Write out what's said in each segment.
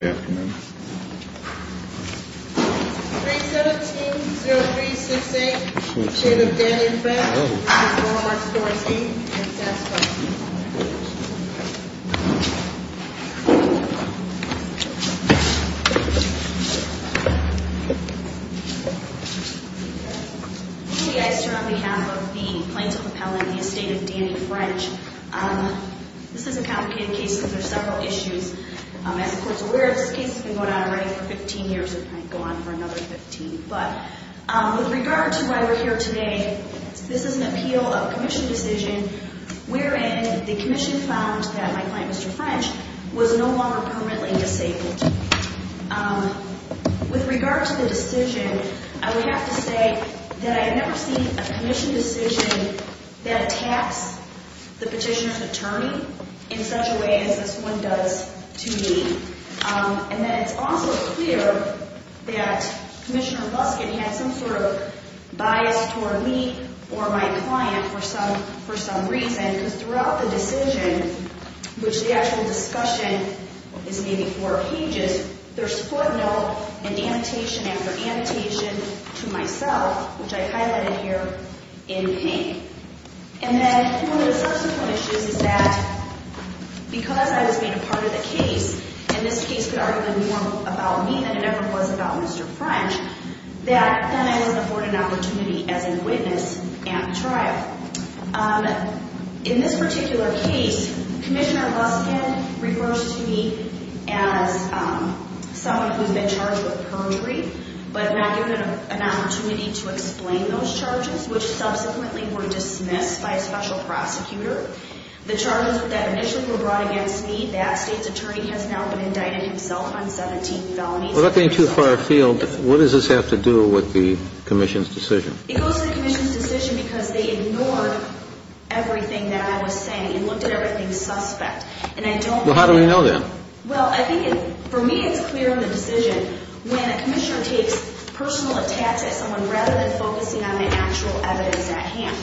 The estate of Danny French. This is a complicated case. There are several issues. As the court is aware, this case has been going on already for 15 years. It might go on for another 15. But with regard to why we're here today, this is an appeal of commission decision wherein the commission found that my client, Mr. French, was no longer permanently disabled. With regard to the decision, I would have to say that I have never seen a commission decision that attacks the petitioner's attorney in such a way as this one does to me. And then it's also clear that Commissioner Buskett had some sort of bias toward me or my client for some reason, because throughout the decision, which the actual discussion is maybe four pages, there's footnote and annotation to myself, which I highlighted here in pink. And then one of the first of the issues is that because I was made a part of the case, and this case could argue a little more about me than it ever was about Mr. French, that then I was afforded an opportunity as a witness at the trial. In this particular case, Commissioner Buskett refers to me as someone who has been charged with perjury, but not given an opportunity to explain those charges, which subsequently were dismissed by a special prosecutor. The charges that initially were brought against me, that State's attorney has now been indicted himself on 17 felonies. Well, that being too far afield, what does this have to do with the commission's decision? It goes to the commission's decision because they ignored everything that I was saying and looked at everything suspect. Well, how do we know that? Well, I think for me it's clear in the decision when a commissioner takes personal attacks at someone rather than focusing on the actual evidence at hand.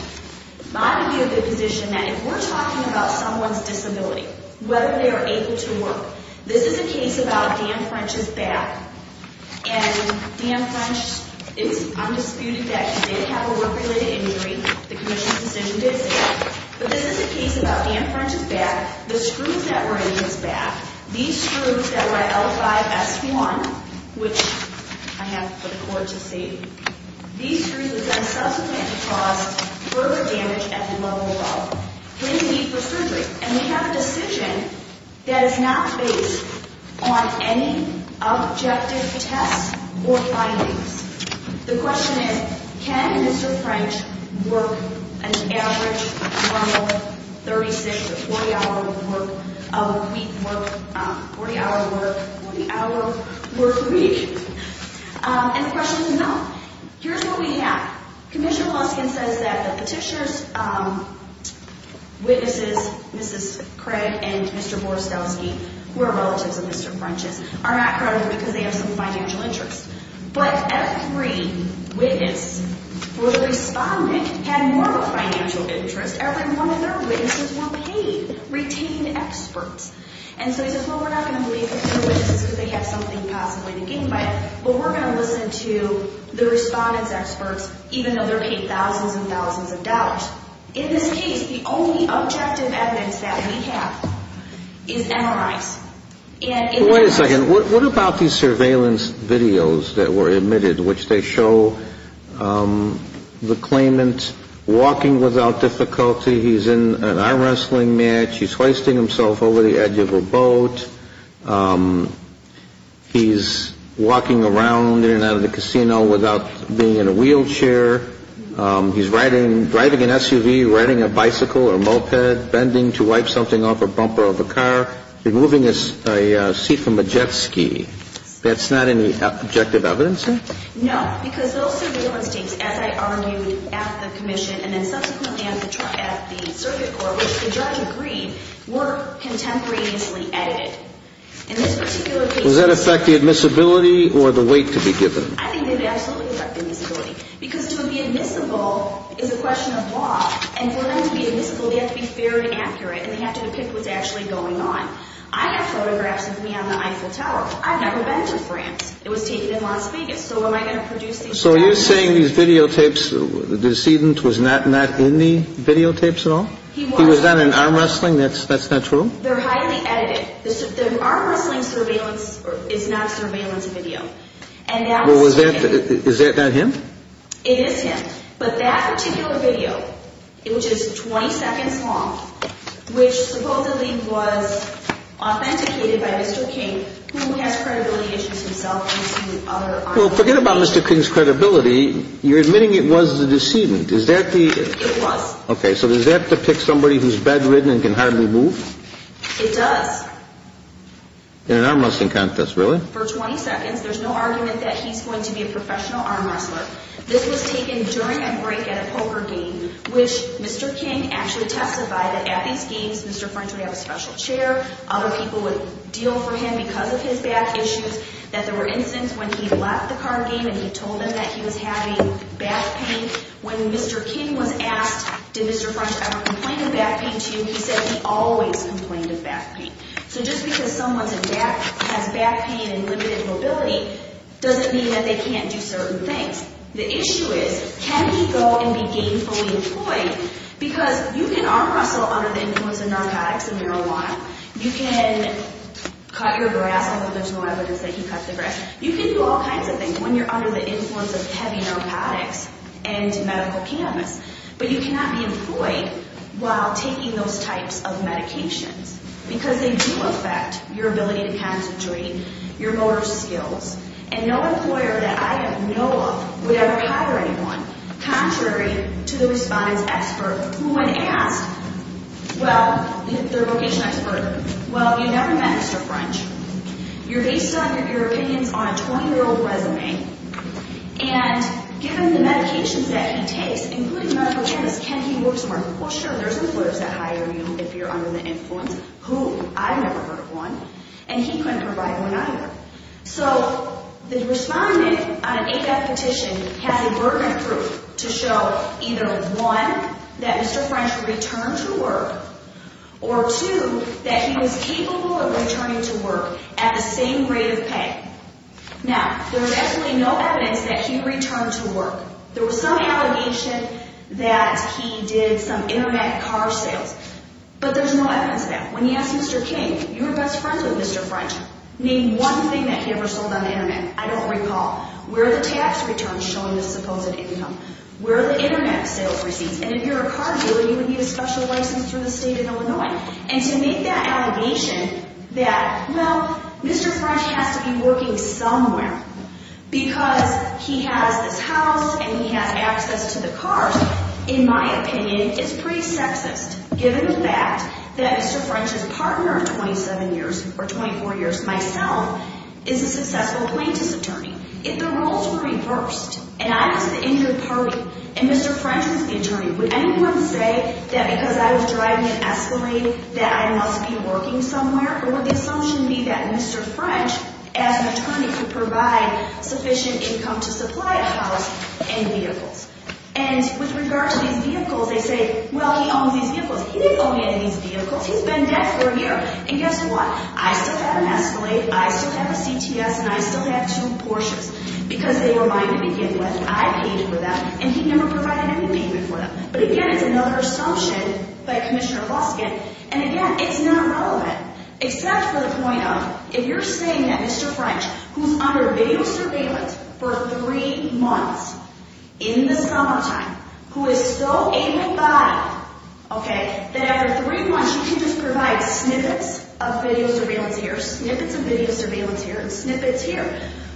I would be in a good position that if we're talking about someone's disability, whether they are able to work, this is a case about Dan French's back. And Dan French is undisputed that he did have a work-related injury. The commission's decision did say that. But this is a case about Dan French's back. The screws that were in his back, these screws that were at L5-S1, which I have for the court to see, these screws that subsequently caused further damage at the level of his knee for surgery. And we have a decision that is not based on any objective test or findings. The question is, can Mr. French work an average, normal 36 to 40-hour week work, 40-hour work, 40-hour work week? And the question is no. Here's what we have. Commissioner Luskin says that the petitioner's witnesses, Mr. Luskin, Mrs. Craig, and Mr. Borostowsky, who are relatives of Mr. French's, are not credited because they have some financial interest. But every witness for the respondent had more of a financial interest. Every one of their witnesses were paid, retained experts. And so he says, well, we're not going to believe that they're witnesses because they have something possibly to gain by it. But we're going to listen to the respondent's experts even though they're paid thousands and thousands of dollars. But in this case, the only objective evidence that we have is MRIs. Wait a second. What about these surveillance videos that were emitted which they show the claimant walking without difficulty? He's in an arm wrestling match. He's hoisting himself over the edge of a boat. He's walking around in and out of the casino without being in a wheelchair. He's riding, driving an SUV, riding a bicycle or a moped, bending to wipe something off a bumper of a car, removing a seat from a jet ski. That's not any objective evidence there? No, because those surveillance tapes, as I argued at the commission and then subsequently at the trial, at the circuit court, which the judge agreed, were contemporaneously edited. In this particular case... Does that affect the admissibility or the weight to be given? I think they would absolutely affect the admissibility because to be admissible is a question of law. And for them to be admissible, they have to be very accurate and they have to depict what's actually going on. I have photographs of me on the Eiffel Tower. I've never been to France. It was taken in Las Vegas. So am I going to produce these... So are you saying these videotapes, the decedent was not in the videotapes at all? He was. He was not in arm wrestling? That's not true? They're highly edited. The arm wrestling surveillance is not surveillance video. Well, is that not him? It is him. But that particular video, which is 20 seconds long, which supposedly was authenticated by Mr. King, who has credibility issues himself... Well, forget about Mr. King's credibility. You're admitting it was the decedent. Is that the... It was. Okay, so does that depict somebody who's bedridden and can hardly move? It does. In an arm wrestling contest, really? For 20 seconds, there's no argument that he's going to be a professional arm wrestler. This was taken during a break at a poker game, which Mr. King actually testified that at these games, Mr. French would have a special chair. Other people would deal for him because of his back issues. That there were incidents when he left the card game and he told them that he was having back pain. When Mr. King was asked, did Mr. French ever complain of back pain to you, he said he always complained of back pain. So just because someone has back pain and limited mobility doesn't mean that they can't do certain things. The issue is, can he go and be gainfully employed? Because you can arm wrestle under the influence of narcotics and marijuana. You can cut your grass, although there's no evidence that he cut the grass. You can do all kinds of things when you're under the influence of heavy narcotics and medical cannabis. But you cannot be employed while taking those types of medications. Because they do affect your ability to concentrate, your motor skills. And no employer that I know of would ever hire anyone, contrary to the respondents' expert. Who when asked, well, their vocation expert, well, you've never met Mr. French. You're based on your opinions on a 20-year-old resume. And given the medications that he takes, including medical cannabis, can he work somewhere? Well, sure, there's employers that hire you if you're under the influence. Who? I've never heard of one. And he couldn't provide one either. So the respondent on an ADAPT petition has a burden of proof to show either, one, that Mr. French returned to work. Or two, that he was capable of returning to work at the same rate of pay. Now, there is absolutely no evidence that he returned to work. There was some allegation that he did some internet car sales. But there's no evidence of that. When he asked Mr. King, your best friend with Mr. French, name one thing that he ever sold on the internet. I don't recall. Where are the tax returns showing the supposed income? Where are the internet sales receipts? And if you're a car dealer, you would need a special license from the state of Illinois. And to make that allegation that, well, Mr. French has to be working somewhere. Because he has this house and he has access to the cars, in my opinion, is pretty sexist. Given the fact that Mr. French's partner of 27 years or 24 years, myself, is a successful plaintiff's attorney. If the roles were reversed and I was the injured party and Mr. French was the attorney, would anyone say that because I was driving an Escalade that I must be working somewhere? Or would the assumption be that Mr. French, as an attorney, could provide sufficient income to supply a house and vehicles? And with regard to these vehicles, they say, well, he owns these vehicles. He didn't own any of these vehicles. He's been dead for a year. And guess what? I still have an Escalade. I still have a CTS. And I still have two Porsches because they were mine to begin with. I paid for them. And he never provided any payment for them. But, again, it's another assumption by Commissioner Luskin. And, again, it's not relevant. Except for the point of, if you're saying that Mr. French, who's under video surveillance for three months in the summertime, who is so able-bodied, okay, that after three months you can just provide snippets of video surveillance here, snippets of video surveillance here, and snippets here.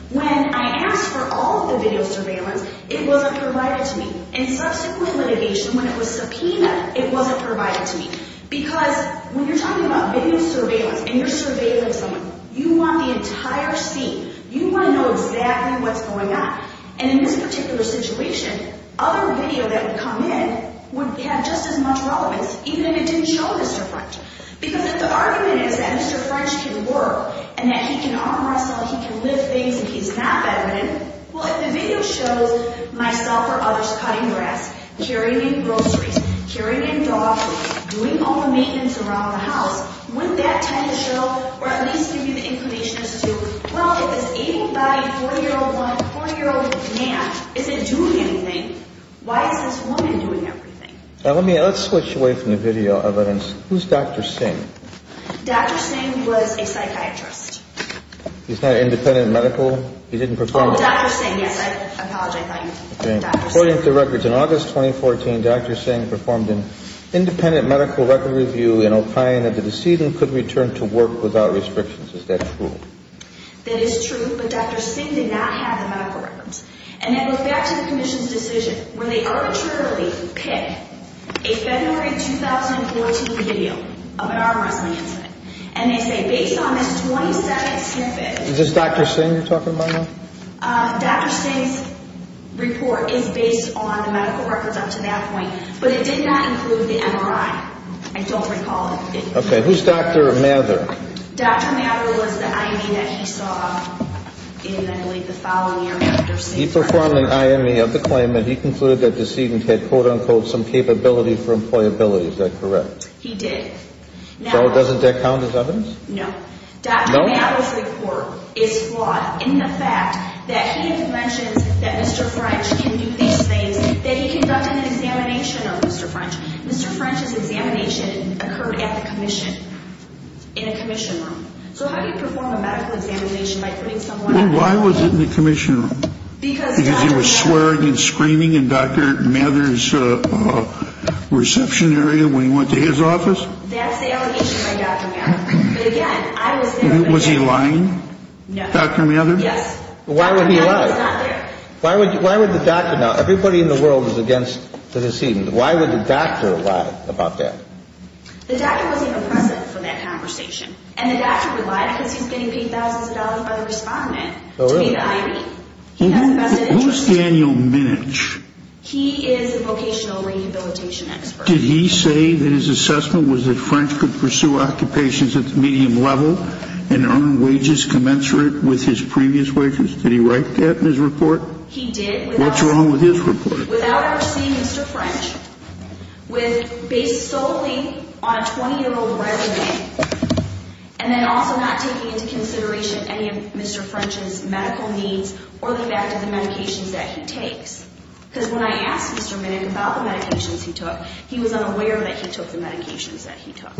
When I asked for all of the video surveillance, it wasn't provided to me. And subsequent litigation, when it was subpoenaed, it wasn't provided to me. Because when you're talking about video surveillance and you're surveilling someone, you want the entire scene. You want to know exactly what's going on. And in this particular situation, other video that would come in would have just as much relevance, even if it didn't show Mr. French. Because if the argument is that Mr. French can work and that he can arm wrestle, he can lift things, and he's not bedridden, well, if the video shows myself or others cutting grass, carrying in groceries, carrying in dog food, doing all the maintenance around the house, wouldn't that tend to show, or at least give you the inclination as to, well, if this able-bodied, 40-year-old woman, 40-year-old man isn't doing anything, why is this woman doing everything? Let's switch away from the video evidence. Who's Dr. Singh? Dr. Singh was a psychiatrist. He's not an independent medical? He didn't perform? Oh, Dr. Singh, yes. I apologize. I thought you were talking about Dr. Singh. According to records, in August 2014, Dr. Singh performed an independent medical record review and opined that the decedent could return to work without restrictions. Is that true? That is true, but Dr. Singh did not have the medical records. And then we'll get back to the commission's decision, where they arbitrarily pick a February 2014 video of an arm wrestling incident. And they say, based on this 20-second snippet... Is this Dr. Singh you're talking about now? Dr. Singh's report is based on the medical records up to that point, but it did not include the MRI. I don't recall it. Okay, who's Dr. Mather? Dr. Mather was the IME that he saw in, I believe, the following year, Dr. Singh. He performed an IME of the claim that he concluded that decedent had, quote-unquote, some capability for employability. Is that correct? He did. So doesn't that count as evidence? No. Dr. Mather's report is flawed in the fact that he mentions that Mr. French can do these things, that he conducted an examination of Mr. French. Mr. French's examination occurred at the commission, in a commission room. So how do you perform a medical examination by putting someone... Well, why was it in the commission room? Because Dr. French... Because he was swearing and screaming in Dr. Mather's reception area when he went to his office? That's the allegation by Dr. Mather. But again, I was there... Was he lying? No. Dr. Mather? Yes. Why would he lie? Dr. Mather was not there. Why would the doctor... Now, everybody in the world is against the decedent. Why would the doctor lie about that? The doctor wasn't present for that conversation. And the doctor would lie because he's getting paid thousands of dollars by the respondent to pay the IME. Who's Daniel Minich? He is a vocational rehabilitation expert. But did he say that his assessment was that French could pursue occupations at the medium level and earn wages commensurate with his previous wages? Did he write that in his report? He did. What's wrong with his report? Without ever seeing Mr. French, based solely on a 20-year-old resume, and then also not taking into consideration any of Mr. French's medical needs or the fact of the medications that he takes. Because when I asked Mr. Minich about the medications he took, he was unaware that he took the medications that he took.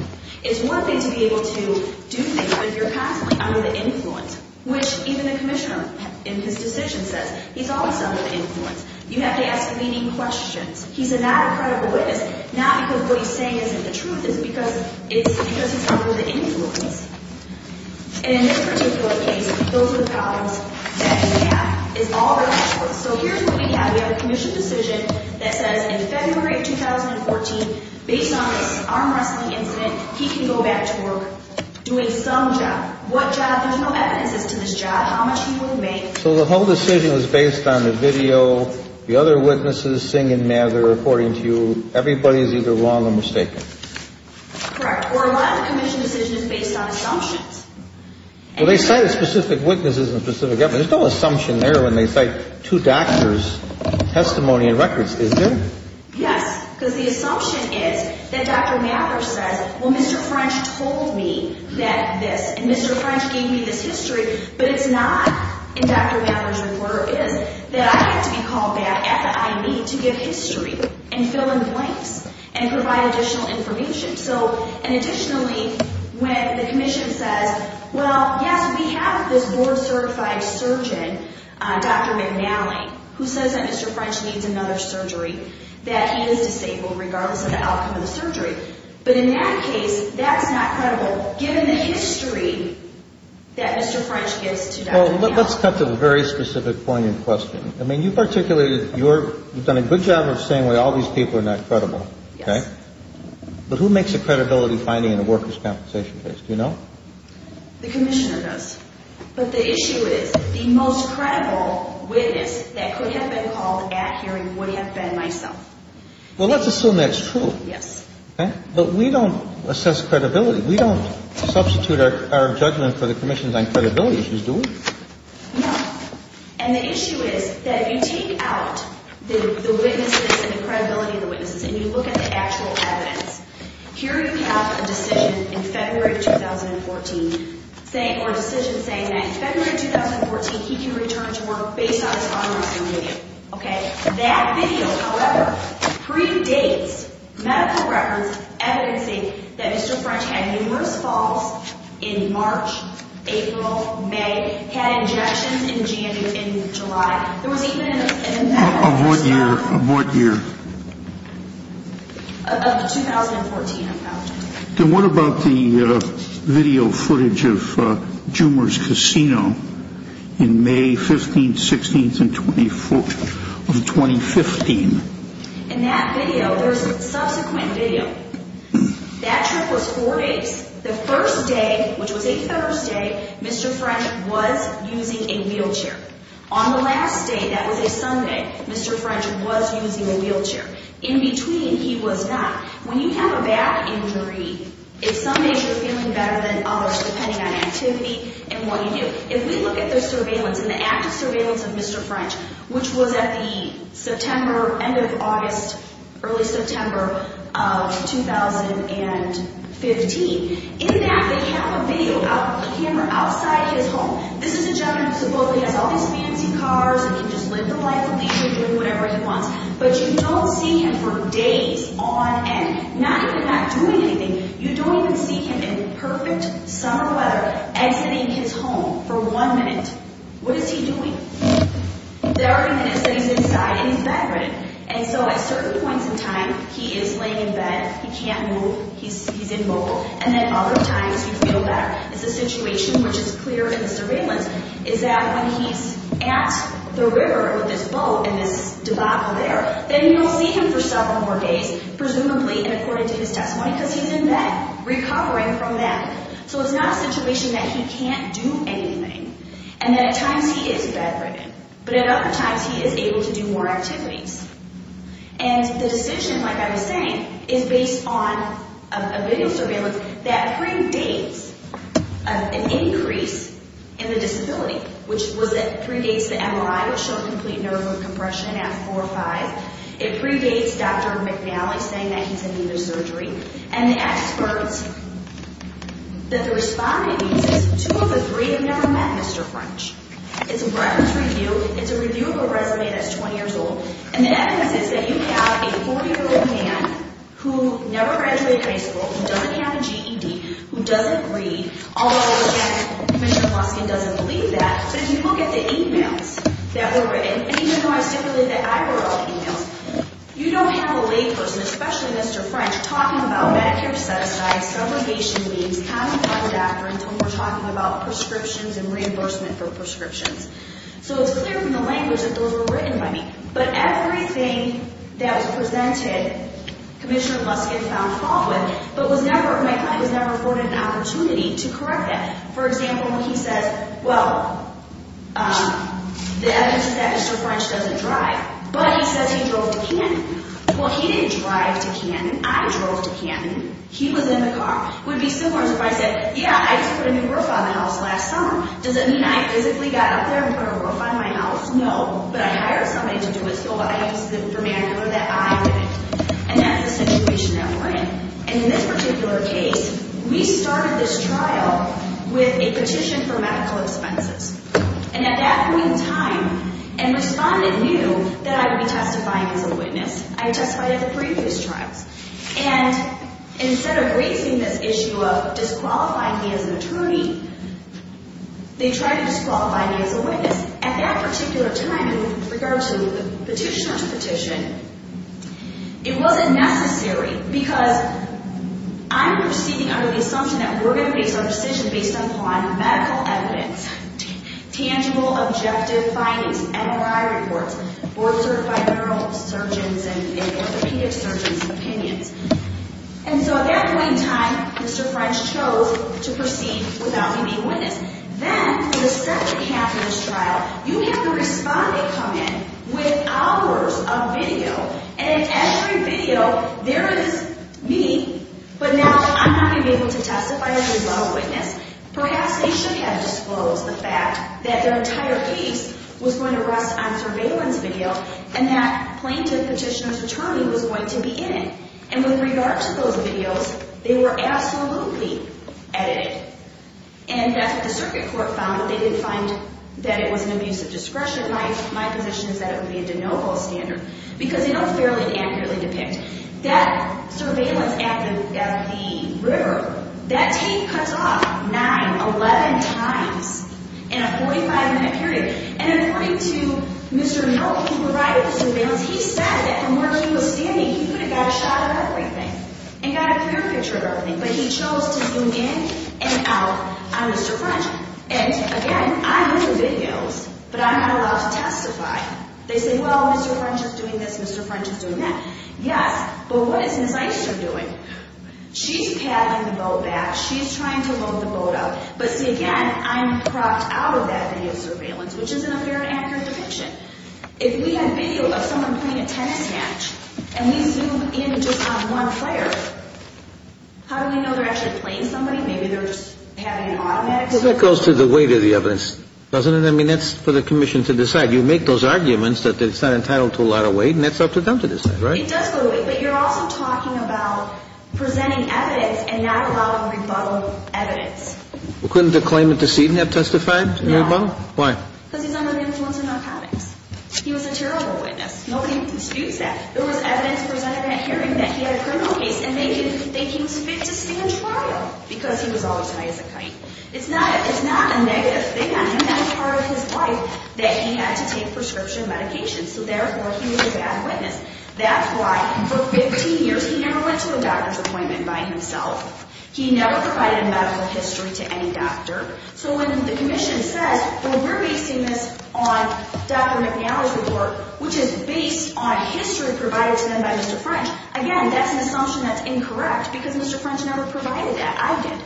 It's one thing to be able to do things, but you're constantly under the influence, which even the commissioner in his decision says, he's always under the influence. You have to ask leading questions. He's not a credible witness, not because what he's saying isn't the truth. It's because he's under the influence. And in this particular case, those are the problems that we have. So here's what we have. We have a commission decision that says in February 2014, based on this arm wrestling incident, he can go back to work doing some job. What job? There's no evidences to this job. How much he will make. So the whole decision was based on the video, the other witnesses, singing mad, they're reporting to you. Everybody is either wrong or mistaken. Correct. Or a lot of the commission decision is based on assumptions. Well, they cited specific witnesses and specific evidence. There's no assumption there when they cite two doctors' testimony and records, is there? Yes, because the assumption is that Dr. Mathers says, well, Mr. French told me that this, and Mr. French gave me this history, but it's not in Dr. Mathers' report, it is that I have to be called back at the IME to give history and fill in the blanks and provide additional information. So, and additionally, when the commission says, well, yes, we have this board-certified surgeon, Dr. McNally, who says that Mr. French needs another surgery, that he is disabled regardless of the outcome of the surgery. But in that case, that's not credible, given the history that Mr. French gives to Dr. McNally. Well, let's cut to the very specific point in question. I mean, you've articulated, you've done a good job of saying, well, all these people are not credible, okay? Yes. But who makes a credibility finding in a workers' compensation case? Do you know? The commissioner does. But the issue is, the most credible witness that could have been called at hearing would have been myself. Well, let's assume that's true. Yes. Okay? But we don't assess credibility. We don't substitute our judgment for the commission's on credibility issues, do we? No. And the issue is that you take out the witnesses and the credibility of the witnesses and you look at the actual evidence. Here you have a decision in February of 2014 saying, or a decision saying that in February of 2014, he can return to work based on his congressman video, okay? That video, however, predates medical reference evidencing that Mr. French had numerous falls in March, April, May, had injections in January, in July. Of what year? Of 2014. Then what about the video footage of Jumer's Casino in May 15th, 16th of 2015? In that video, there's subsequent video. That trip was four days. The first day, which was a Thursday, Mr. French was using a wheelchair. On the last day, that was a Sunday, Mr. French was using a wheelchair. In between, he was not. When you have a back injury, if some days you're feeling better than others, depending on activity and what you do, if we look at the surveillance and the active surveillance of Mr. French, which was at the September, end of August, early September of 2015, in that they have a video of him outside his home. This is a gentleman who supposedly has all these fancy cars and can just live the life of leisure, doing whatever he wants. But you don't see him for days on end, not even not doing anything. You don't even see him in perfect summer weather exiting his home for one minute. What is he doing? There are minutes that he's inside and he's back ready. And so at certain points in time, he is laying in bed, he can't move, he's immobile. And then other times, you feel better. It's a situation which is clear in the surveillance, is that when he's at the river with his boat in this debacle there, then you don't see him for several more days, presumably, and according to his testimony, because he's in bed recovering from that. So it's not a situation that he can't do anything. And then at times, he is bed ready. But at other times, he is able to do more activities. And the decision, like I was saying, is based on a video surveillance that predates an increase in the disability, which predates the MRI which showed complete nerve compression at 4 or 5. It predates Dr. McNally saying that he's in need of surgery. And the expert that the respondent uses, two of the three have never met Mr. French. It's a reference review. It's a review of a resume that's 20 years old. And the evidence is that you have a 40-year-old man who never graduated high school, who doesn't have a GED, who doesn't read. Although, again, Commissioner Luskin doesn't believe that. But if you look at the e-mails that were written, and even though I stipulated that I wrote e-mails, you don't have a layperson, especially Mr. French, talking about Medicare set-aside, subrogation leaves, common-clinic doctor until we're talking about prescriptions and reimbursement for prescriptions. So it's clear from the language that those were written by me. But everything that was presented, Commissioner Luskin found fault with, but was never afforded an opportunity to correct it. For example, he says, well, the evidence is that Mr. French doesn't drive. But he says he drove to Canton. Well, he didn't drive to Canton. I drove to Canton. He was in the car. It would be similar as if I said, yeah, I took a new roof on the house last summer. Does it mean I physically got up there and put a roof on my house? No, but I hired somebody to do it. So what I have to say to the manager that I did it. And that's the situation that we're in. And in this particular case, we started this trial with a petition for medical expenses. And at that point in time, a respondent knew that I would be testifying as a witness. I testified at the previous trials. And instead of raising this issue of disqualifying me as an attorney, they tried to disqualify me as a witness. At that particular time, in regards to the petitioner's petition, it wasn't necessary because I'm proceeding under the assumption that we're going to base our decision based upon medical evidence, tangible, objective findings, MRI reports, board-certified neurosurgeons and orthopedic surgeons' opinions. And so at that point in time, Mr. French chose to proceed without me being a witness. Then, for the second half of this trial, you have a respondent come in with hours of video. And in every video, there is me. But now I'm not going to be able to testify as a law witness. Perhaps they should have disclosed the fact that their entire case was going to rest on surveillance video and that plaintiff petitioner's attorney was going to be in it. And with regard to those videos, they were absolutely edited. And that's what the circuit court found. They didn't find that it was an abuse of discretion. My position is that it would be a de novo standard because they don't fairly and accurately depict. That surveillance at the river, that tape cuts off 9, 11 times in a 45-minute period. And according to Mr. Milk, who provided the surveillance, he said that from where he was standing, he could have got a shot of everything and got a clear picture of everything. But he chose to zoom in and out on Mr. French. And, again, I'm in the videos, but I'm not allowed to testify. They say, well, Mr. French is doing this, Mr. French is doing that. Yes, but what is Ms. Eichster doing? She's paddling the boat back. She's trying to load the boat up. But, see, again, I'm propped out of that video surveillance, which isn't a fairly accurate depiction. If we had video of someone playing a tennis match and we zoom in just on one player, how do we know they're actually playing somebody? Maybe they're just having an automatic surveillance. Well, that goes to the weight of the evidence, doesn't it? I mean, that's for the commission to decide. You make those arguments that it's not entitled to a lot of weight, and that's up to them to decide, right? It does go to weight, but you're also talking about presenting evidence and not allowing rebuttal evidence. Well, couldn't the claimant to see it and have testified? No. Why? Because he's under the influence of narcotics. He was a terrible witness. Nobody disputes that. There was evidence presented at hearing that he had a criminal case, and they didn't think he was fit to stand trial because he was always high as a kite. It's not a negative thing on him. That was part of his life that he had to take prescription medication, so therefore he was a bad witness. That's why for 15 years he never went to a doctor's appointment by himself. He never provided a medical history to any doctor. So when the commission says, well, we're basing this on Dr. McNally's report, which is based on history provided to them by Mr. French, again, that's an assumption that's incorrect because Mr. French never provided that. I did.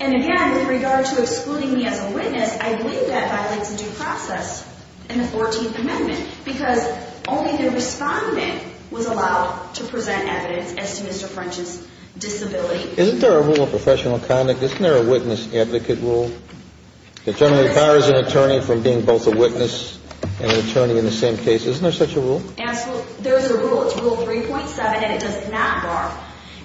And, again, with regard to excluding me as a witness, I believe that violates the due process in the 14th Amendment because only the respondent was allowed to present evidence as to Mr. French's disability. Isn't there a rule of professional conduct? Isn't there a witness-advocate rule that generally bars an attorney from being both a witness and an attorney in the same case? Isn't there such a rule? There is a rule. It's Rule 3.7, and it does not bar.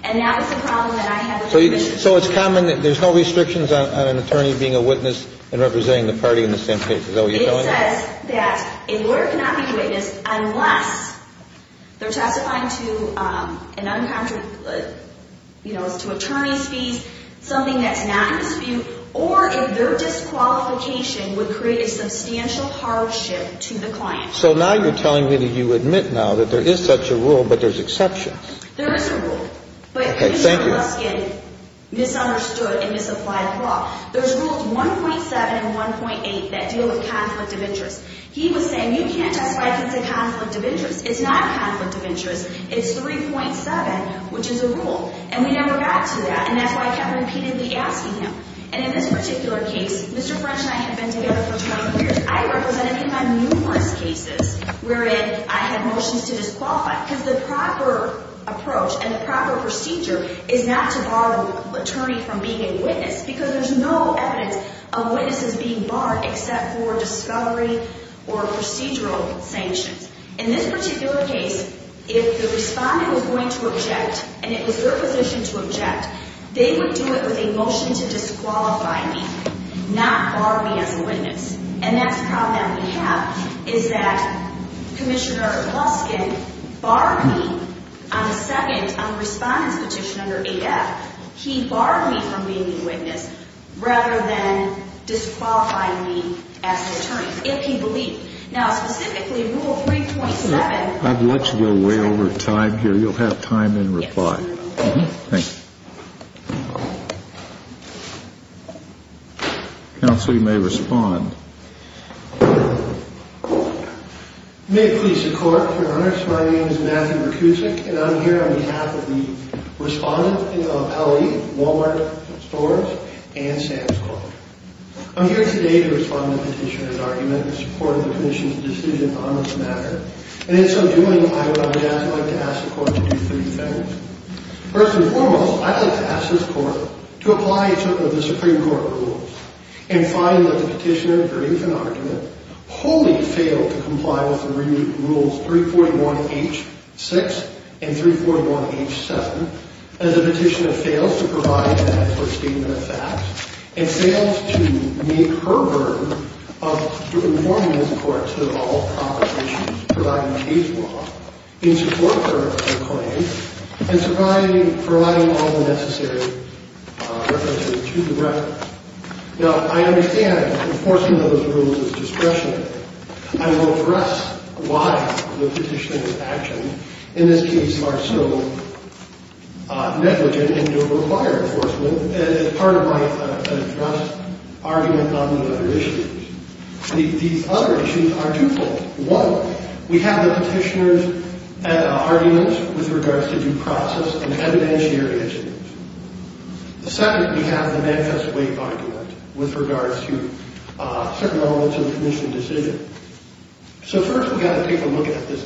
And that was the problem that I had with it. So it's common that there's no restrictions on an attorney being a witness and representing the party in the same case. Is that what you're telling me? It says that a lawyer cannot be a witness unless they're testifying to an uncontracted, you know, to attorney's fees, something that's not in dispute, or if their disqualification would create a substantial hardship to the client. So now you're telling me that you admit now that there is such a rule but there's exceptions. There is a rule. Okay. Thank you. But Mr. Luskin misunderstood and misapplied the law. There's Rules 1.7 and 1.8 that deal with conflict of interest. He was saying you can't testify against a conflict of interest. It's not a conflict of interest. It's 3.7, which is a rule. And we never got to that. And that's why I kept repeatedly asking him. And in this particular case, Mr. French and I have been together for 20 years. I represented him on numerous cases wherein I had motions to disqualify because the proper approach and the proper procedure is not to bar an attorney from being a witness because there's no evidence of witnesses being barred except for discovery or procedural sanctions. In this particular case, if the respondent was going to object and it was their position to object, they would do it with a motion to disqualify me, not bar me as a witness. And that's the problem that we have is that Commissioner Luskin barred me on a second, on a respondent's petition under AF. He barred me from being the witness rather than disqualifying me as the attorney, if he believed. Now, specifically, Rule 3.7. I've let you go way over time here. You'll have time in reply. Thank you. Counsel, you may respond. May it please the Court, Your Honors. My name is Matthew Berkusik, and I'm here on behalf of the respondent of L.E., Walmart Stores, and Sam's Club. I'm here today to respond to the petitioner's argument in support of the Commission's decision on this matter. And in so doing, I would, on behalf, like to ask the Court to do three things. First and foremost, I'd like to ask this Court to apply to the Supreme Court rules and find that the petitioner agrees an argument wholly failed to comply with the rules 3.1H.6 and 3.1H.7 as the petitioner fails to provide an expert statement of facts and fails to make her verb of informing this Court to evolve complications providing case law in support of her claim and providing all the necessary references to the record. Now, I understand that enforcing those rules is discretionary. I will address why the petitioner's actions in this case are so negligent and over-required enforcement as part of my address argument on the other issues. These other issues are twofold. One, we have the petitioner's argument with regards to due process and evidentiary issues. The second, we have the manifest way argument with regards to certain elements of the Commission's decision. So first, we've got to take a look at this.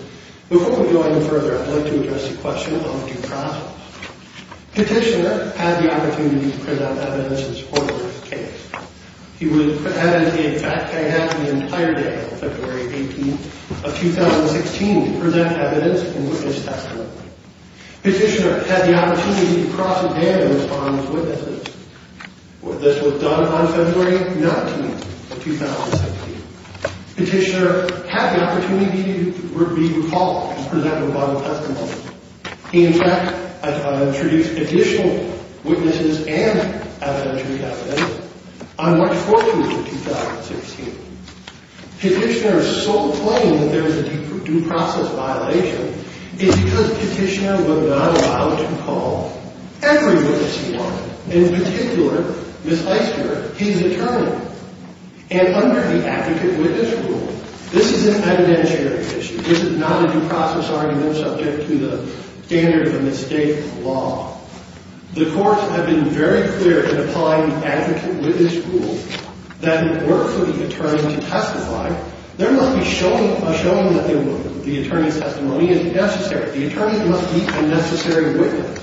Before we go any further, I'd like to address the question of due process. Petitioner had the opportunity to present evidence in support of her case. In fact, she had the entire day of February 18th of 2016 to present evidence in support of her case. Petitioner had the opportunity to cross-examine and respond to witnesses. This was done on February 19th of 2016. Petitioner had the opportunity to be recalled and presented with Bible testimony. In fact, I've introduced additional witnesses and evidentiary evidence on March 14th of 2016. Petitioner is so plain that there is a due process violation. It's because petitioner was not allowed to call every witness he wanted. In particular, Ms. Heisler, his attorney. And under the advocate-witness rule, this is an evidentiary issue. This is not a due process argument subject to the standard of a mistake law. The courts have been very clear in applying the advocate-witness rule that it worked for the attorney to testify. There must be a showing that the attorney's testimony is necessary. The attorney must be a necessary witness.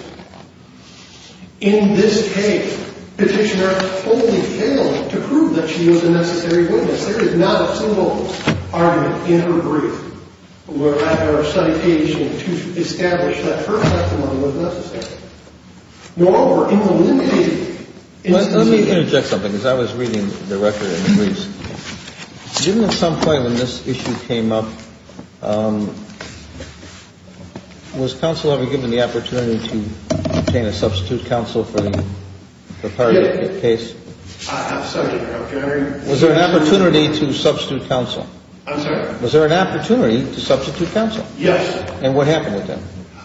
In this case, petitioner only failed to prove that she was a necessary witness. There is not a single argument in her brief or citation to establish that her testimony was necessary. As I was reading the record in briefs, given at some point when this issue came up, was counsel ever given the opportunity to obtain a substitute counsel for the prior case? I'm sorry, Your Honor. Was there an opportunity to substitute counsel? I'm sorry? Was there an opportunity to substitute counsel? Yes. And what happened with that?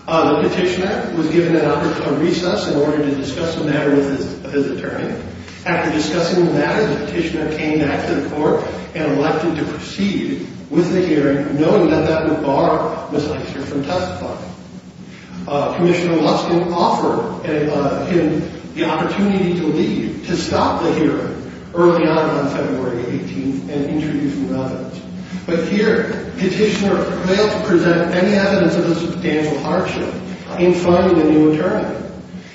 The petitioner was given a recess in order to discuss the matter with his attorney. After discussing the matter, the petitioner came back to the court and elected to proceed with the hearing, knowing that that would bar Ms. Eichner from testifying. Commissioner Luskin offered him the opportunity to leave, to stop the hearing, early on on February 18th and introduce new evidence. But here, petitioner failed to present any evidence of the substantial hardship in finding a new attorney.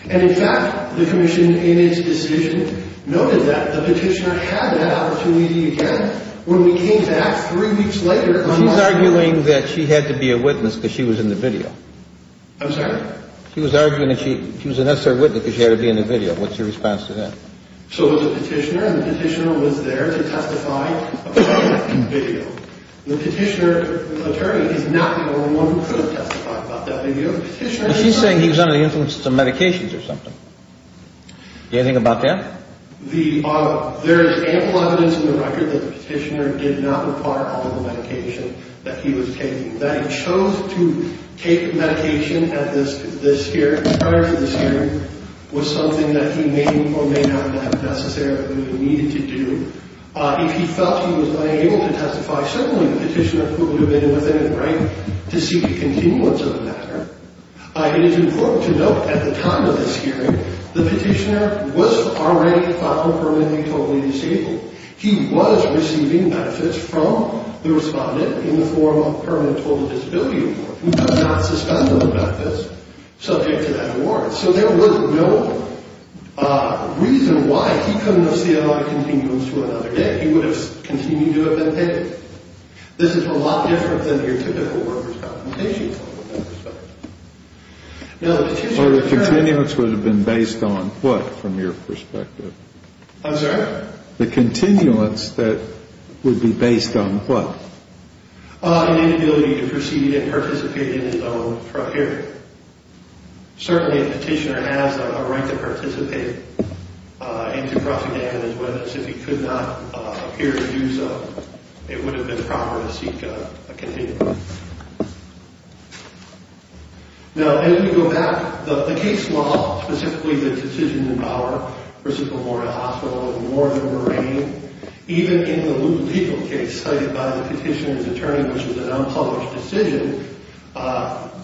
And, in fact, the commission in its decision noted that the petitioner had that opportunity again. When we came back three weeks later, She's arguing that she had to be a witness because she was in the video. I'm sorry? She was arguing that she was a necessary witness because she had to be in the video. What's your response to that? So it was a petitioner, and the petitioner was there to testify about the video. The petitioner's attorney is not the only one who could have testified about that. She's saying he was under the influence of some medications or something. Do you have anything about that? There is ample evidence in the record that the petitioner did not require all of the medication that he was taking. That he chose to take medication at this hearing, prior to this hearing, was something that he may or may not have necessarily needed to do. If he felt he was unable to testify, certainly the petitioner could have been within the right to seek a continuance of the matter. It is important to note, at the time of this hearing, the petitioner was already filed permanently totally disabled. He was receiving benefits from the respondent in the form of a permanent total disability award. We could not suspend those benefits subject to that award. So there was no reason why he couldn't have seen a lot of continuance to another day. He would have continued to have been taken. This is a lot different than your typical worker's complimentation. Or the continuance would have been based on what, from your perspective? I'm sorry? The continuance that would be based on what? An inability to proceed and participate in his own property. Certainly, a petitioner has a right to participate. If he could not appear to do so, it would have been proper to seek a continuance. Now, as we go back, the case law, specifically the decision in Bauer v. Memorial Hospital and Warden Marine, even in the legal case cited by the petitioner's attorney, which was an unpublished decision,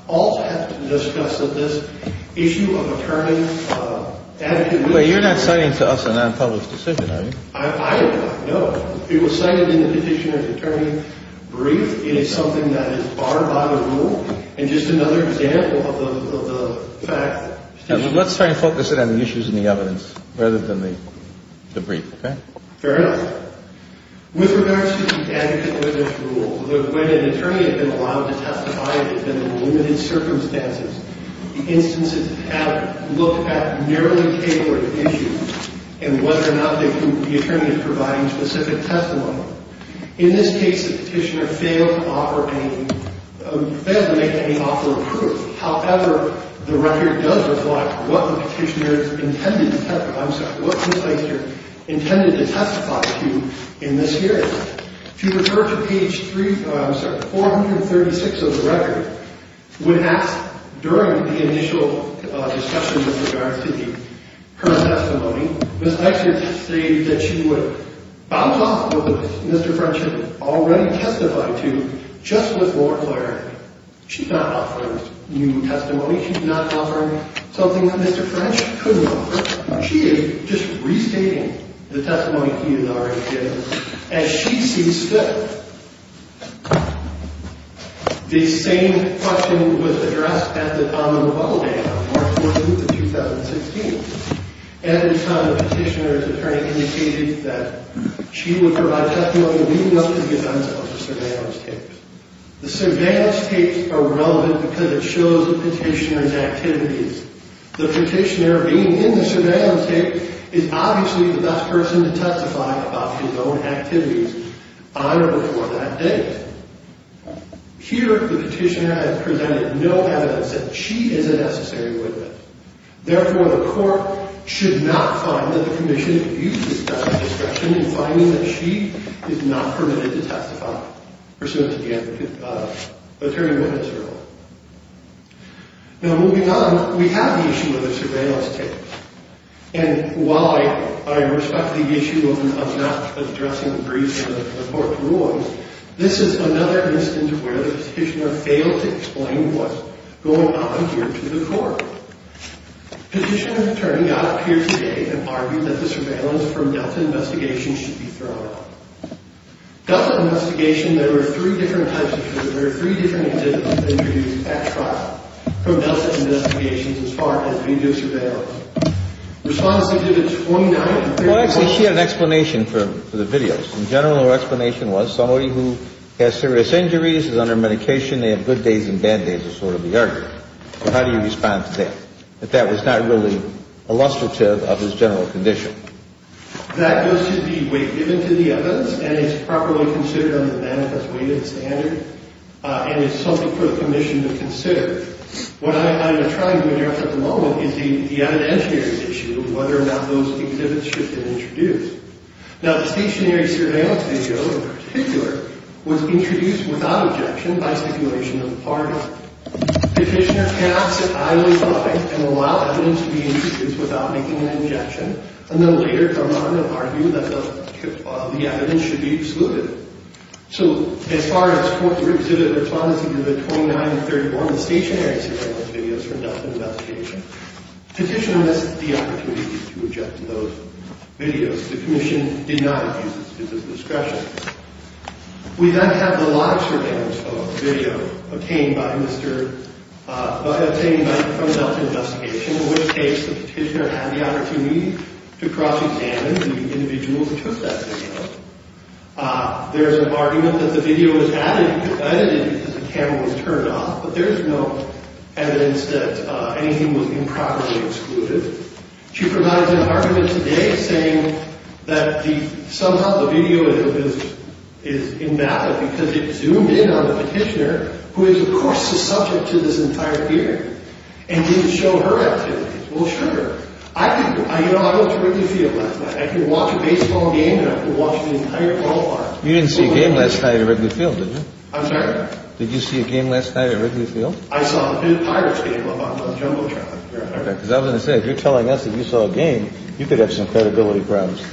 also had to discuss this issue of attorney's adequate witness. But you're not citing to us an unpublished decision, are you? I am not, no. It was cited in the petitioner's attorney's brief. It is something that is barred by the rule. And just another example of the fact that... Let's try to focus it on the issues in the evidence rather than the brief, okay? Fair enough. With regards to the adequate witness rule, when an attorney has been allowed to testify in limited circumstances, the instances have looked at narrowly tabled issues and whether or not the attorney is providing specific testimony. In this case, the petitioner failed to make any offer of proof. However, the record does reply what the petitioner intended to testify to in this hearing. If you refer to page 436 of the record, when asked during the initial discussion with regards to her testimony, Ms. Heister stated that she would bounce off of what Mr. French had already testified to just with more clarity. She's not offering new testimony. She's not offering something that Mr. French couldn't offer. She is just restating the testimony he has already given as she sees fit. The same question was addressed at the time of the bubble ban on March 14th of 2016. At the time, the petitioner's attorney indicated that she would provide testimony leading up to the events of the surveillance case. The surveillance tapes are relevant because it shows the petitioner's activities. The petitioner, being in the surveillance tape, is obviously the best person to testify about his own activities on or before that date. Here, the petitioner has presented no evidence that she is a necessary witness. Therefore, the court should not find that the commission abuses that discussion in finding that she is not permitted to testify pursuant to the attorney-witness rule. Now, moving on, we have the issue of the surveillance tapes. And while I respect the issue of not addressing the briefings of the court rulings, this is another instance where the petitioner failed to explain what's going on here to the court. The petitioner's attorney got up here today and argued that the surveillance from Delta Investigation should be thrown out. Delta Investigation, there were three different types of surveillance. There were three different activities introduced at trial from Delta Investigation as far as video surveillance. Respondents did it 29 and 31. Well, actually, she had an explanation for the videos. In general, her explanation was somebody who has serious injuries, is under medication, they have good days and bad days is sort of the argument. How do you respond to that? That that was not really illustrative of his general condition. That goes to the weight given to the evidence, and it's properly considered under the manifest weight of the standard, and it's something for the commission to consider. What I'm trying to address at the moment is the evidentiary issue of whether or not those exhibits should be introduced. Now, the stationary surveillance video in particular was introduced without objection by stipulation of the parties. Petitioner cannot sit idly by and allow evidence to be introduced without making an objection, and then later come on and argue that the evidence should be excluded. So as far as court exhibits, Respondents did it 29 and 31, the stationary surveillance videos from Delta Investigation. Petitioner missed the opportunity to object to those videos. The commission denied his discretion. We then have the live surveillance video obtained by Mr. obtained by, from Delta Investigation, in which case the petitioner had the opportunity to cross-examine the individual who took that video. There's an argument that the video was added, edited, because the camera was turned off, but there's no evidence that anything was improperly excluded. She provides an argument today saying that the, that somehow the video is in that, because it zoomed in on the petitioner, who is, of course, the subject to this entire hearing, and didn't show her activities. Well, sure. I can, you know, I went to Wrigley Field last night. I can watch a baseball game, and I can watch the entire ballpark. You didn't see a game last night at Wrigley Field, did you? I'm sorry? Did you see a game last night at Wrigley Field? I saw a pirate's game on Jumbotron. Okay, because I was going to say, if you're telling us that you saw a game, you could have some credibility problems.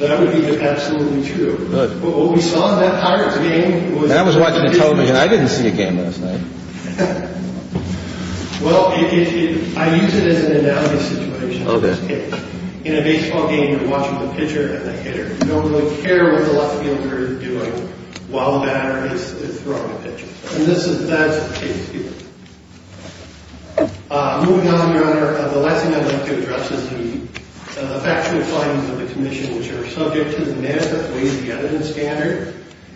That would be absolutely true. But what we saw in that pirate's game was... And I was watching a television. I didn't see a game last night. Well, I use it as an analogy situation on this case. Okay. In a baseball game, you're watching the pitcher and the hitter. You don't really care what the left fielder is doing while the batter is throwing a pitch. And this is, that is the case here. Moving on, Your Honor, the last thing I'd like to address is the factual findings of the commission, which are subject to the manifest ways of the evidence standard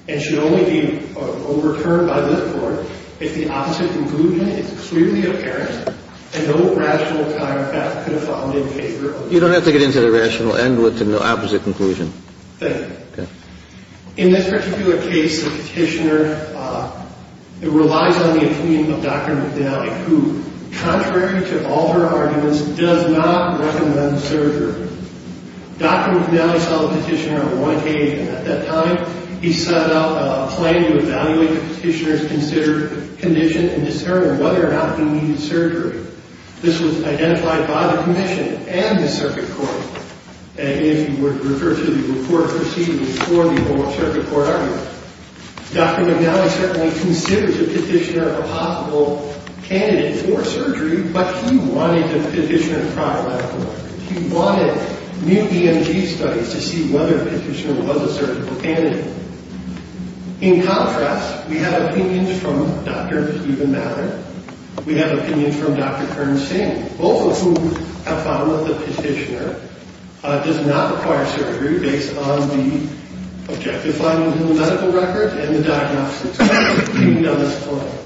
and should only be overturned by this Court if the opposite conclusion is clearly apparent and no rational timefract could have found in favor of... You don't have to get into the rational end with the opposite conclusion. Thank you. Okay. In this particular case, the petitioner relies on the opinion of Dr. McDally, who, contrary to all her arguments, does not recommend surgery. Dr. McDally saw the petitioner on one occasion. At that time, he set out a plan to evaluate the petitioner's considered condition and discern whether or not he needed surgery. This was identified by the commission and the circuit court, if you would refer to the report preceded before the whole circuit court argument. Dr. McDally certainly considers the petitioner a possible candidate for surgery, but he wanted the petitioner to try a medical record. He wanted new EMG studies to see whether the petitioner was a surgical candidate. In contrast, we have opinions from Dr. Stephen Mallard. We have opinions from Dr. Karan Singh, both of whom have found that the petitioner does not require surgery based on the objective findings in the medical record and the diagnosis. He doesn't explain.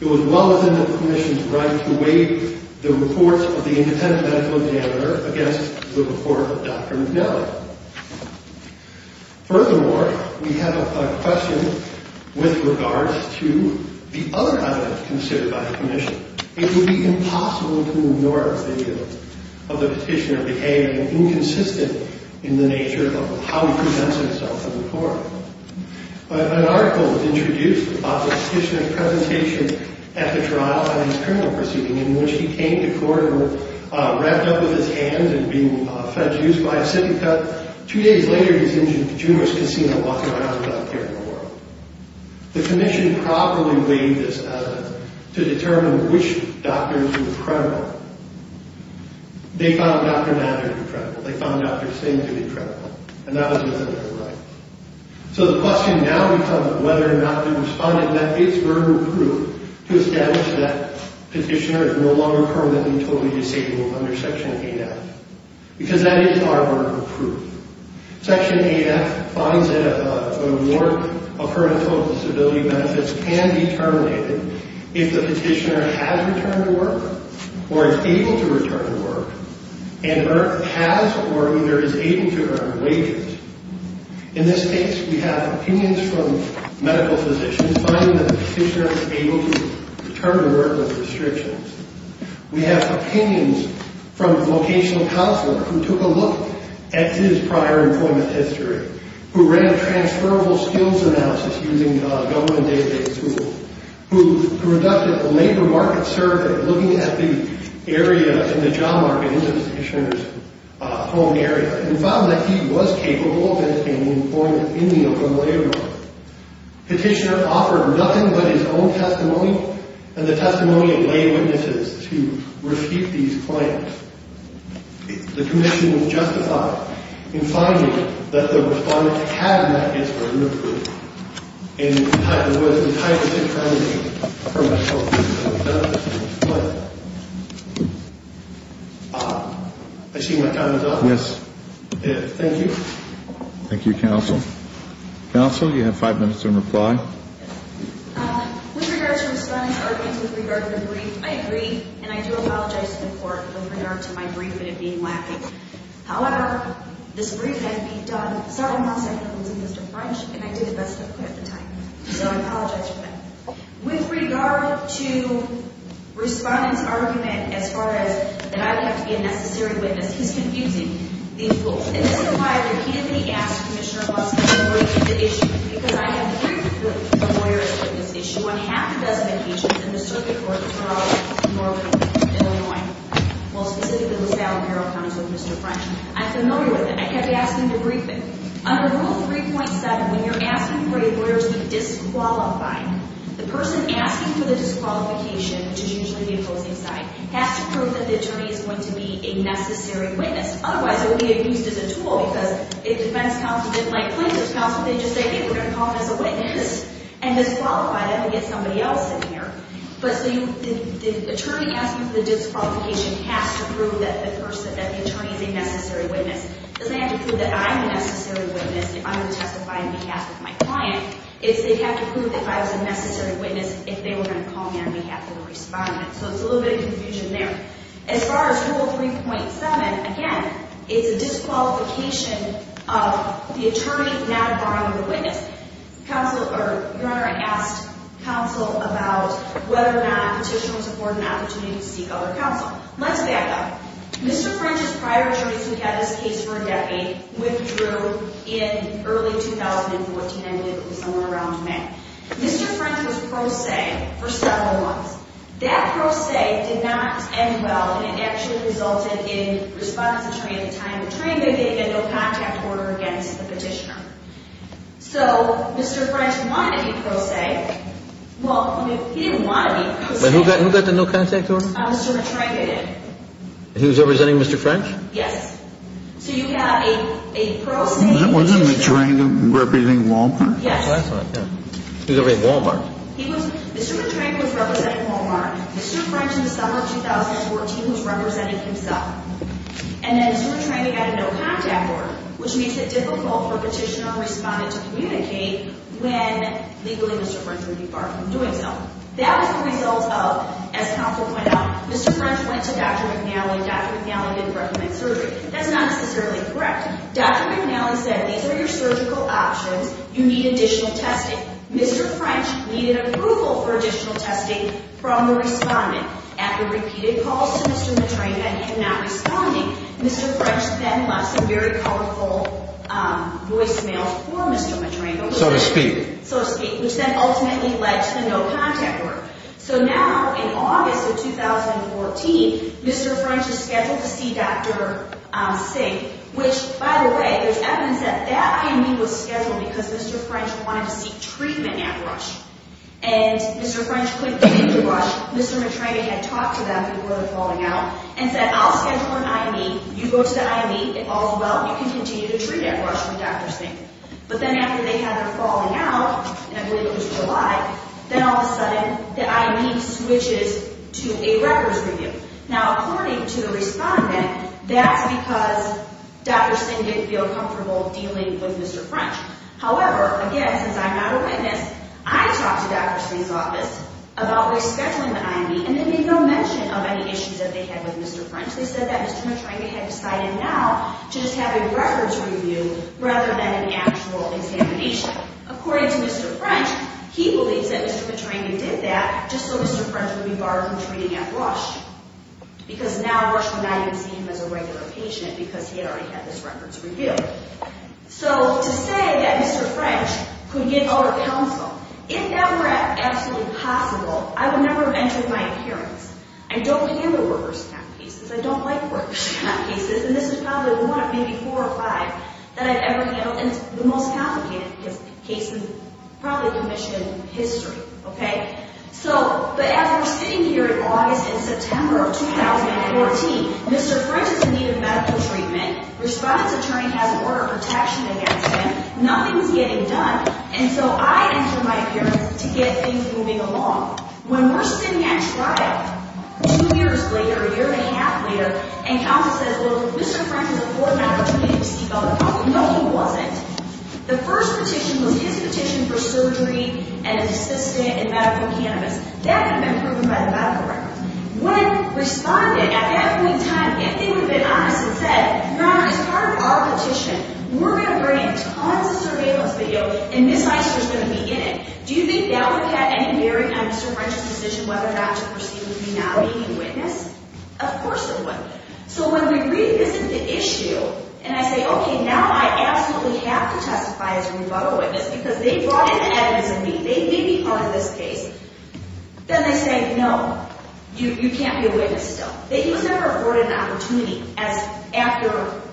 It was well within the commission's right to waive the report of the independent medical examiner against the report of Dr. McDally. Furthermore, we have a question with regards to the other evidence considered by the commission. It would be impossible to ignore the view of the petitioner behaving inconsistent in the nature of how he presents himself in the court. An article was introduced about the petitioner's presentation at the trial by his criminal proceeding in which he came to court and was wrapped up with his hands and being fed juice by a syphilc cup. Two days later, he's in Juneau's Casino walking around without care in the world. The commission probably waived this to determine which doctors were credible. They found Dr. Mallard credible. They found Dr. Singh to be credible, and that was within their rights. So the question now becomes whether or not the respondent met its verbal proof to establish that the petitioner is no longer permanently totally disabled under Section 8F, because that is our verbal proof. Section 8F finds that a warrant of her mental disability benefits can be terminated if the petitioner has returned to work or is able to return to work and has or either is able to earn wages. In this case, we have opinions from medical physicians finding that the petitioner is able to return to work with restrictions. We have opinions from a vocational counselor who took a look at his prior employment history, who ran a transferable skills analysis using government day-to-day tools, who conducted a labor market survey looking at the area in the job market into the petitioner's home area and found that he was capable of maintaining employment in the open labor market. The petitioner offered nothing but his own testimony and the testimony of lay witnesses to refute these claims. The commission was justified in finding that the respondent had met its verbal proof and was entitled to terminate her mental disability benefits. Thank you. I see my time is up. Yes. Thank you. Thank you, Counsel. Counsel, you have five minutes to reply. With regard to the respondent's argument with regard to the brief, I agree and I do apologize to the court with regard to my brief and it being lacking. However, this brief has been done several months after losing Mr. French and I did the best I could at the time. So I apologize for that. With regard to respondent's argument as far as that I have to be a necessary witness, he's confusing these rules. And this is why I repeatedly asked Commissioner Busk to refute the issue because I have briefed with the lawyers on this issue on half the designations in the circuit court for our law firm in Illinois. Well, specifically, the Sallie Perrell comes with Mr. French. I'm familiar with it. I kept asking to brief him. Under Rule 3.7, when you're asking for a lawyer to be disqualified, the person asking for the disqualification, which is usually the opposing side, has to prove that the attorney is going to be a necessary witness. Otherwise, it would be abused as a tool because if defense counsel didn't like plaintiff's counsel, they'd just say, hey, we're going to call him as a witness and disqualify him and get somebody else in here. But so the attorney asking for the disqualification has to prove that the person, that the attorney is a necessary witness. It doesn't have to prove that I'm a necessary witness if I'm going to testify on behalf of my client. It has to prove that I was a necessary witness if they were going to call me on behalf of a respondent. So it's a little bit of confusion there. As far as Rule 3.7, again, it's a disqualification of the attorney not borrowing the witness. Your Honor, I asked counsel about whether or not petitioners afford an opportunity to seek other counsel. Let's back up. Mr. French's prior attorneys who had this case for a decade withdrew in early 2014. I believe it was somewhere around May. Mr. French was pro se for several months. That pro se did not end well and actually resulted in respondent's attorney at the time betraying them. They had no contact order against the petitioner. So Mr. French wanted to be pro se. Well, he didn't want to be pro se. Who got the no contact order? Mr. Betraying did. He was representing Mr. French? Yes. So you have a pro se. Wasn't Betraying representing Walmart? Yes. He was representing Walmart. Mr. Betraying was representing Walmart. Mr. French in the summer of 2014 was representing himself. And then you were trying to get a no contact order, which makes it difficult for petitioner and respondent to communicate when legally Mr. French would be far from doing so. That was the result of, as counsel pointed out, Mr. French went to Dr. McNally and Dr. McNally didn't recommend surgery. That's not necessarily correct. Dr. McNally said, these are your surgical options. You need additional testing. Mr. French needed approval for additional testing from the respondent. After repeated calls to Mr. Betraying and him not responding, Mr. French then left some very colorful voicemails for Mr. Betraying. So to speak. So to speak. Which then ultimately led to the no contact order. So now in August of 2014, Mr. French is scheduled to see Dr. Singh. Which, by the way, there's evidence that that meeting was scheduled because Mr. French wanted to seek treatment at Rush. And Mr. French couldn't get to Rush. Mr. Betraying had talked to them before the falling out and said, I'll schedule an IME. You go to the IME. If all's well, you can continue to treat at Rush with Dr. Singh. But then after they had her falling out, and I believe it was July, then all of a sudden the IME switches to a records review. Now according to the respondent, that's because Dr. Singh didn't feel comfortable dealing with Mr. French. However, again, since I'm not a witness, I talked to Dr. Singh's office about rescheduling the IME and they made no mention of any issues that they had with Mr. French. They said that Mr. Betraying had decided now to just have a records review rather than an actual examination. According to Mr. French, he believes that Mr. Betraying did that just so Mr. French would be barred from treating at Rush. Because now Rush would not even see him as a regular patient because he had already had this records review. So to say that Mr. French could get out of counsel, if that were absolutely possible, I would never have entered my appearance. I don't handle workers' count cases. I don't like workers' count cases. And this is probably one of maybe four or five that I've ever handled. And it's the most complicated case in probably commission history. But as we're sitting here in August and September of 2014, Mr. French is in need of medical treatment. Respondent's attorney has an order of protection against him. Nothing's getting done. And so I enter my appearance to get things moving along. When we're sitting at trial two years later, a year and a half later, and counsel says, well, Mr. French has a four-year opportunity to seek out a counsel. No, he wasn't. The first petition was his petition for surgery and an assistant in medical cannabis. That had been proven by the medical records. When respondent, at that point in time, if they would have been honest and said, your Honor, as part of our petition, we're going to bring tons of surveillance video, and Ms. Eichner's going to be in it, do you think that would have had any bearing on Mr. French's decision whether or not to proceed with me now being a witness? Of course it would. So when we revisit the issue and I say, okay, now I absolutely have to testify as a rebuttal witness because they brought in evidence of me. They made me part of this case. Then they say, no, you can't be a witness still. That he was never afforded an opportunity, as after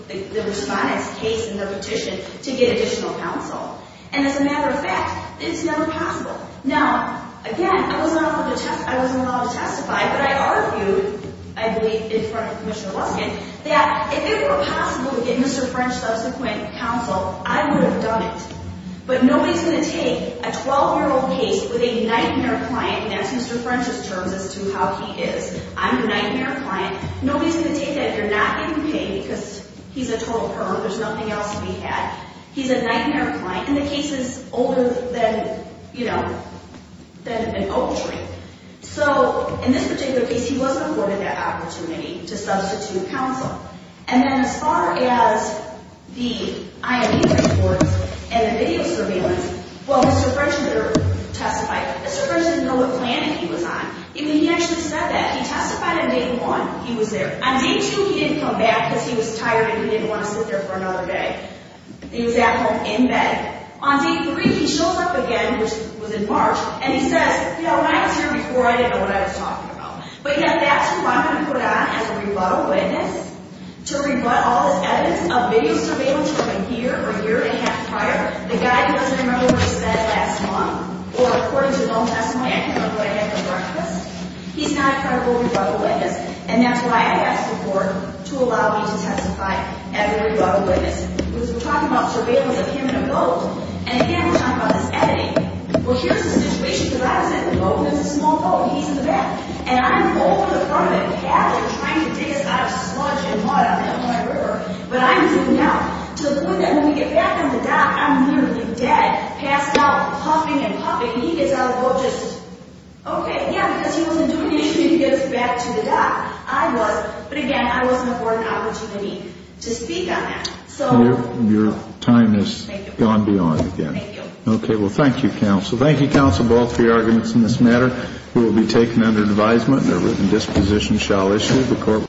the respondent's case in their petition, to get additional counsel. And as a matter of fact, it's never possible. Now, again, I wasn't allowed to testify, but I argued, I believe, in front of Commissioner Luskin, that if it were possible to get Mr. French subsequent counsel, I would have done it. But nobody's going to take a 12-year-old case with a nightmare client, and that's Mr. French's terms as to how he is. I'm your nightmare client. Nobody's going to take that if you're not getting paid because he's a total perv. There's nothing else to be had. He's a nightmare client. And the case is older than, you know, than an oak tree. So in this particular case, he wasn't afforded that opportunity to substitute counsel. And then as far as the IME reports and the video surveillance, while Mr. French did testify, Mr. French didn't know what plan he was on. He actually said that. He testified on day one, he was there. On day two, he didn't come back because he was tired and he didn't want to sit there for another day. He was at home in bed. On day three, he shows up again, which was in March, and he says, you know, when I was here before, I didn't know what I was talking about. But yet that's who I'm going to put on as a rebuttal witness to rebut all this evidence of video surveillance from a year or a year and a half prior, the guy who doesn't remember where he spent the last month or according to his own testimony, I can't remember what I had for breakfast. He's not a credible rebuttal witness, and that's why I asked the court to allow me to testify as a rebuttal witness. Because we're talking about surveillance of him in a boat, and again, we're talking about this editing. Well, here's the situation because I was in the boat and it was a small boat, and he's in the back. And I'm over the front of it, paddling, trying to dig us out of sludge and mud on the Illinois River, but I'm zooming out. To the point that when we get back on the dock, I'm literally dead, passed out, puffing and puffing, and he gets out of the boat just... Okay, yeah, because he wasn't doing anything to get us back to the dock. I was, but again, I wasn't afforded an opportunity to speak on that. So... Your time has gone beyond again. Thank you. Okay, well, thank you, counsel. Thank you, counsel, for all three arguments in this matter. We will be taking them under advisement, and a written disposition shall issue.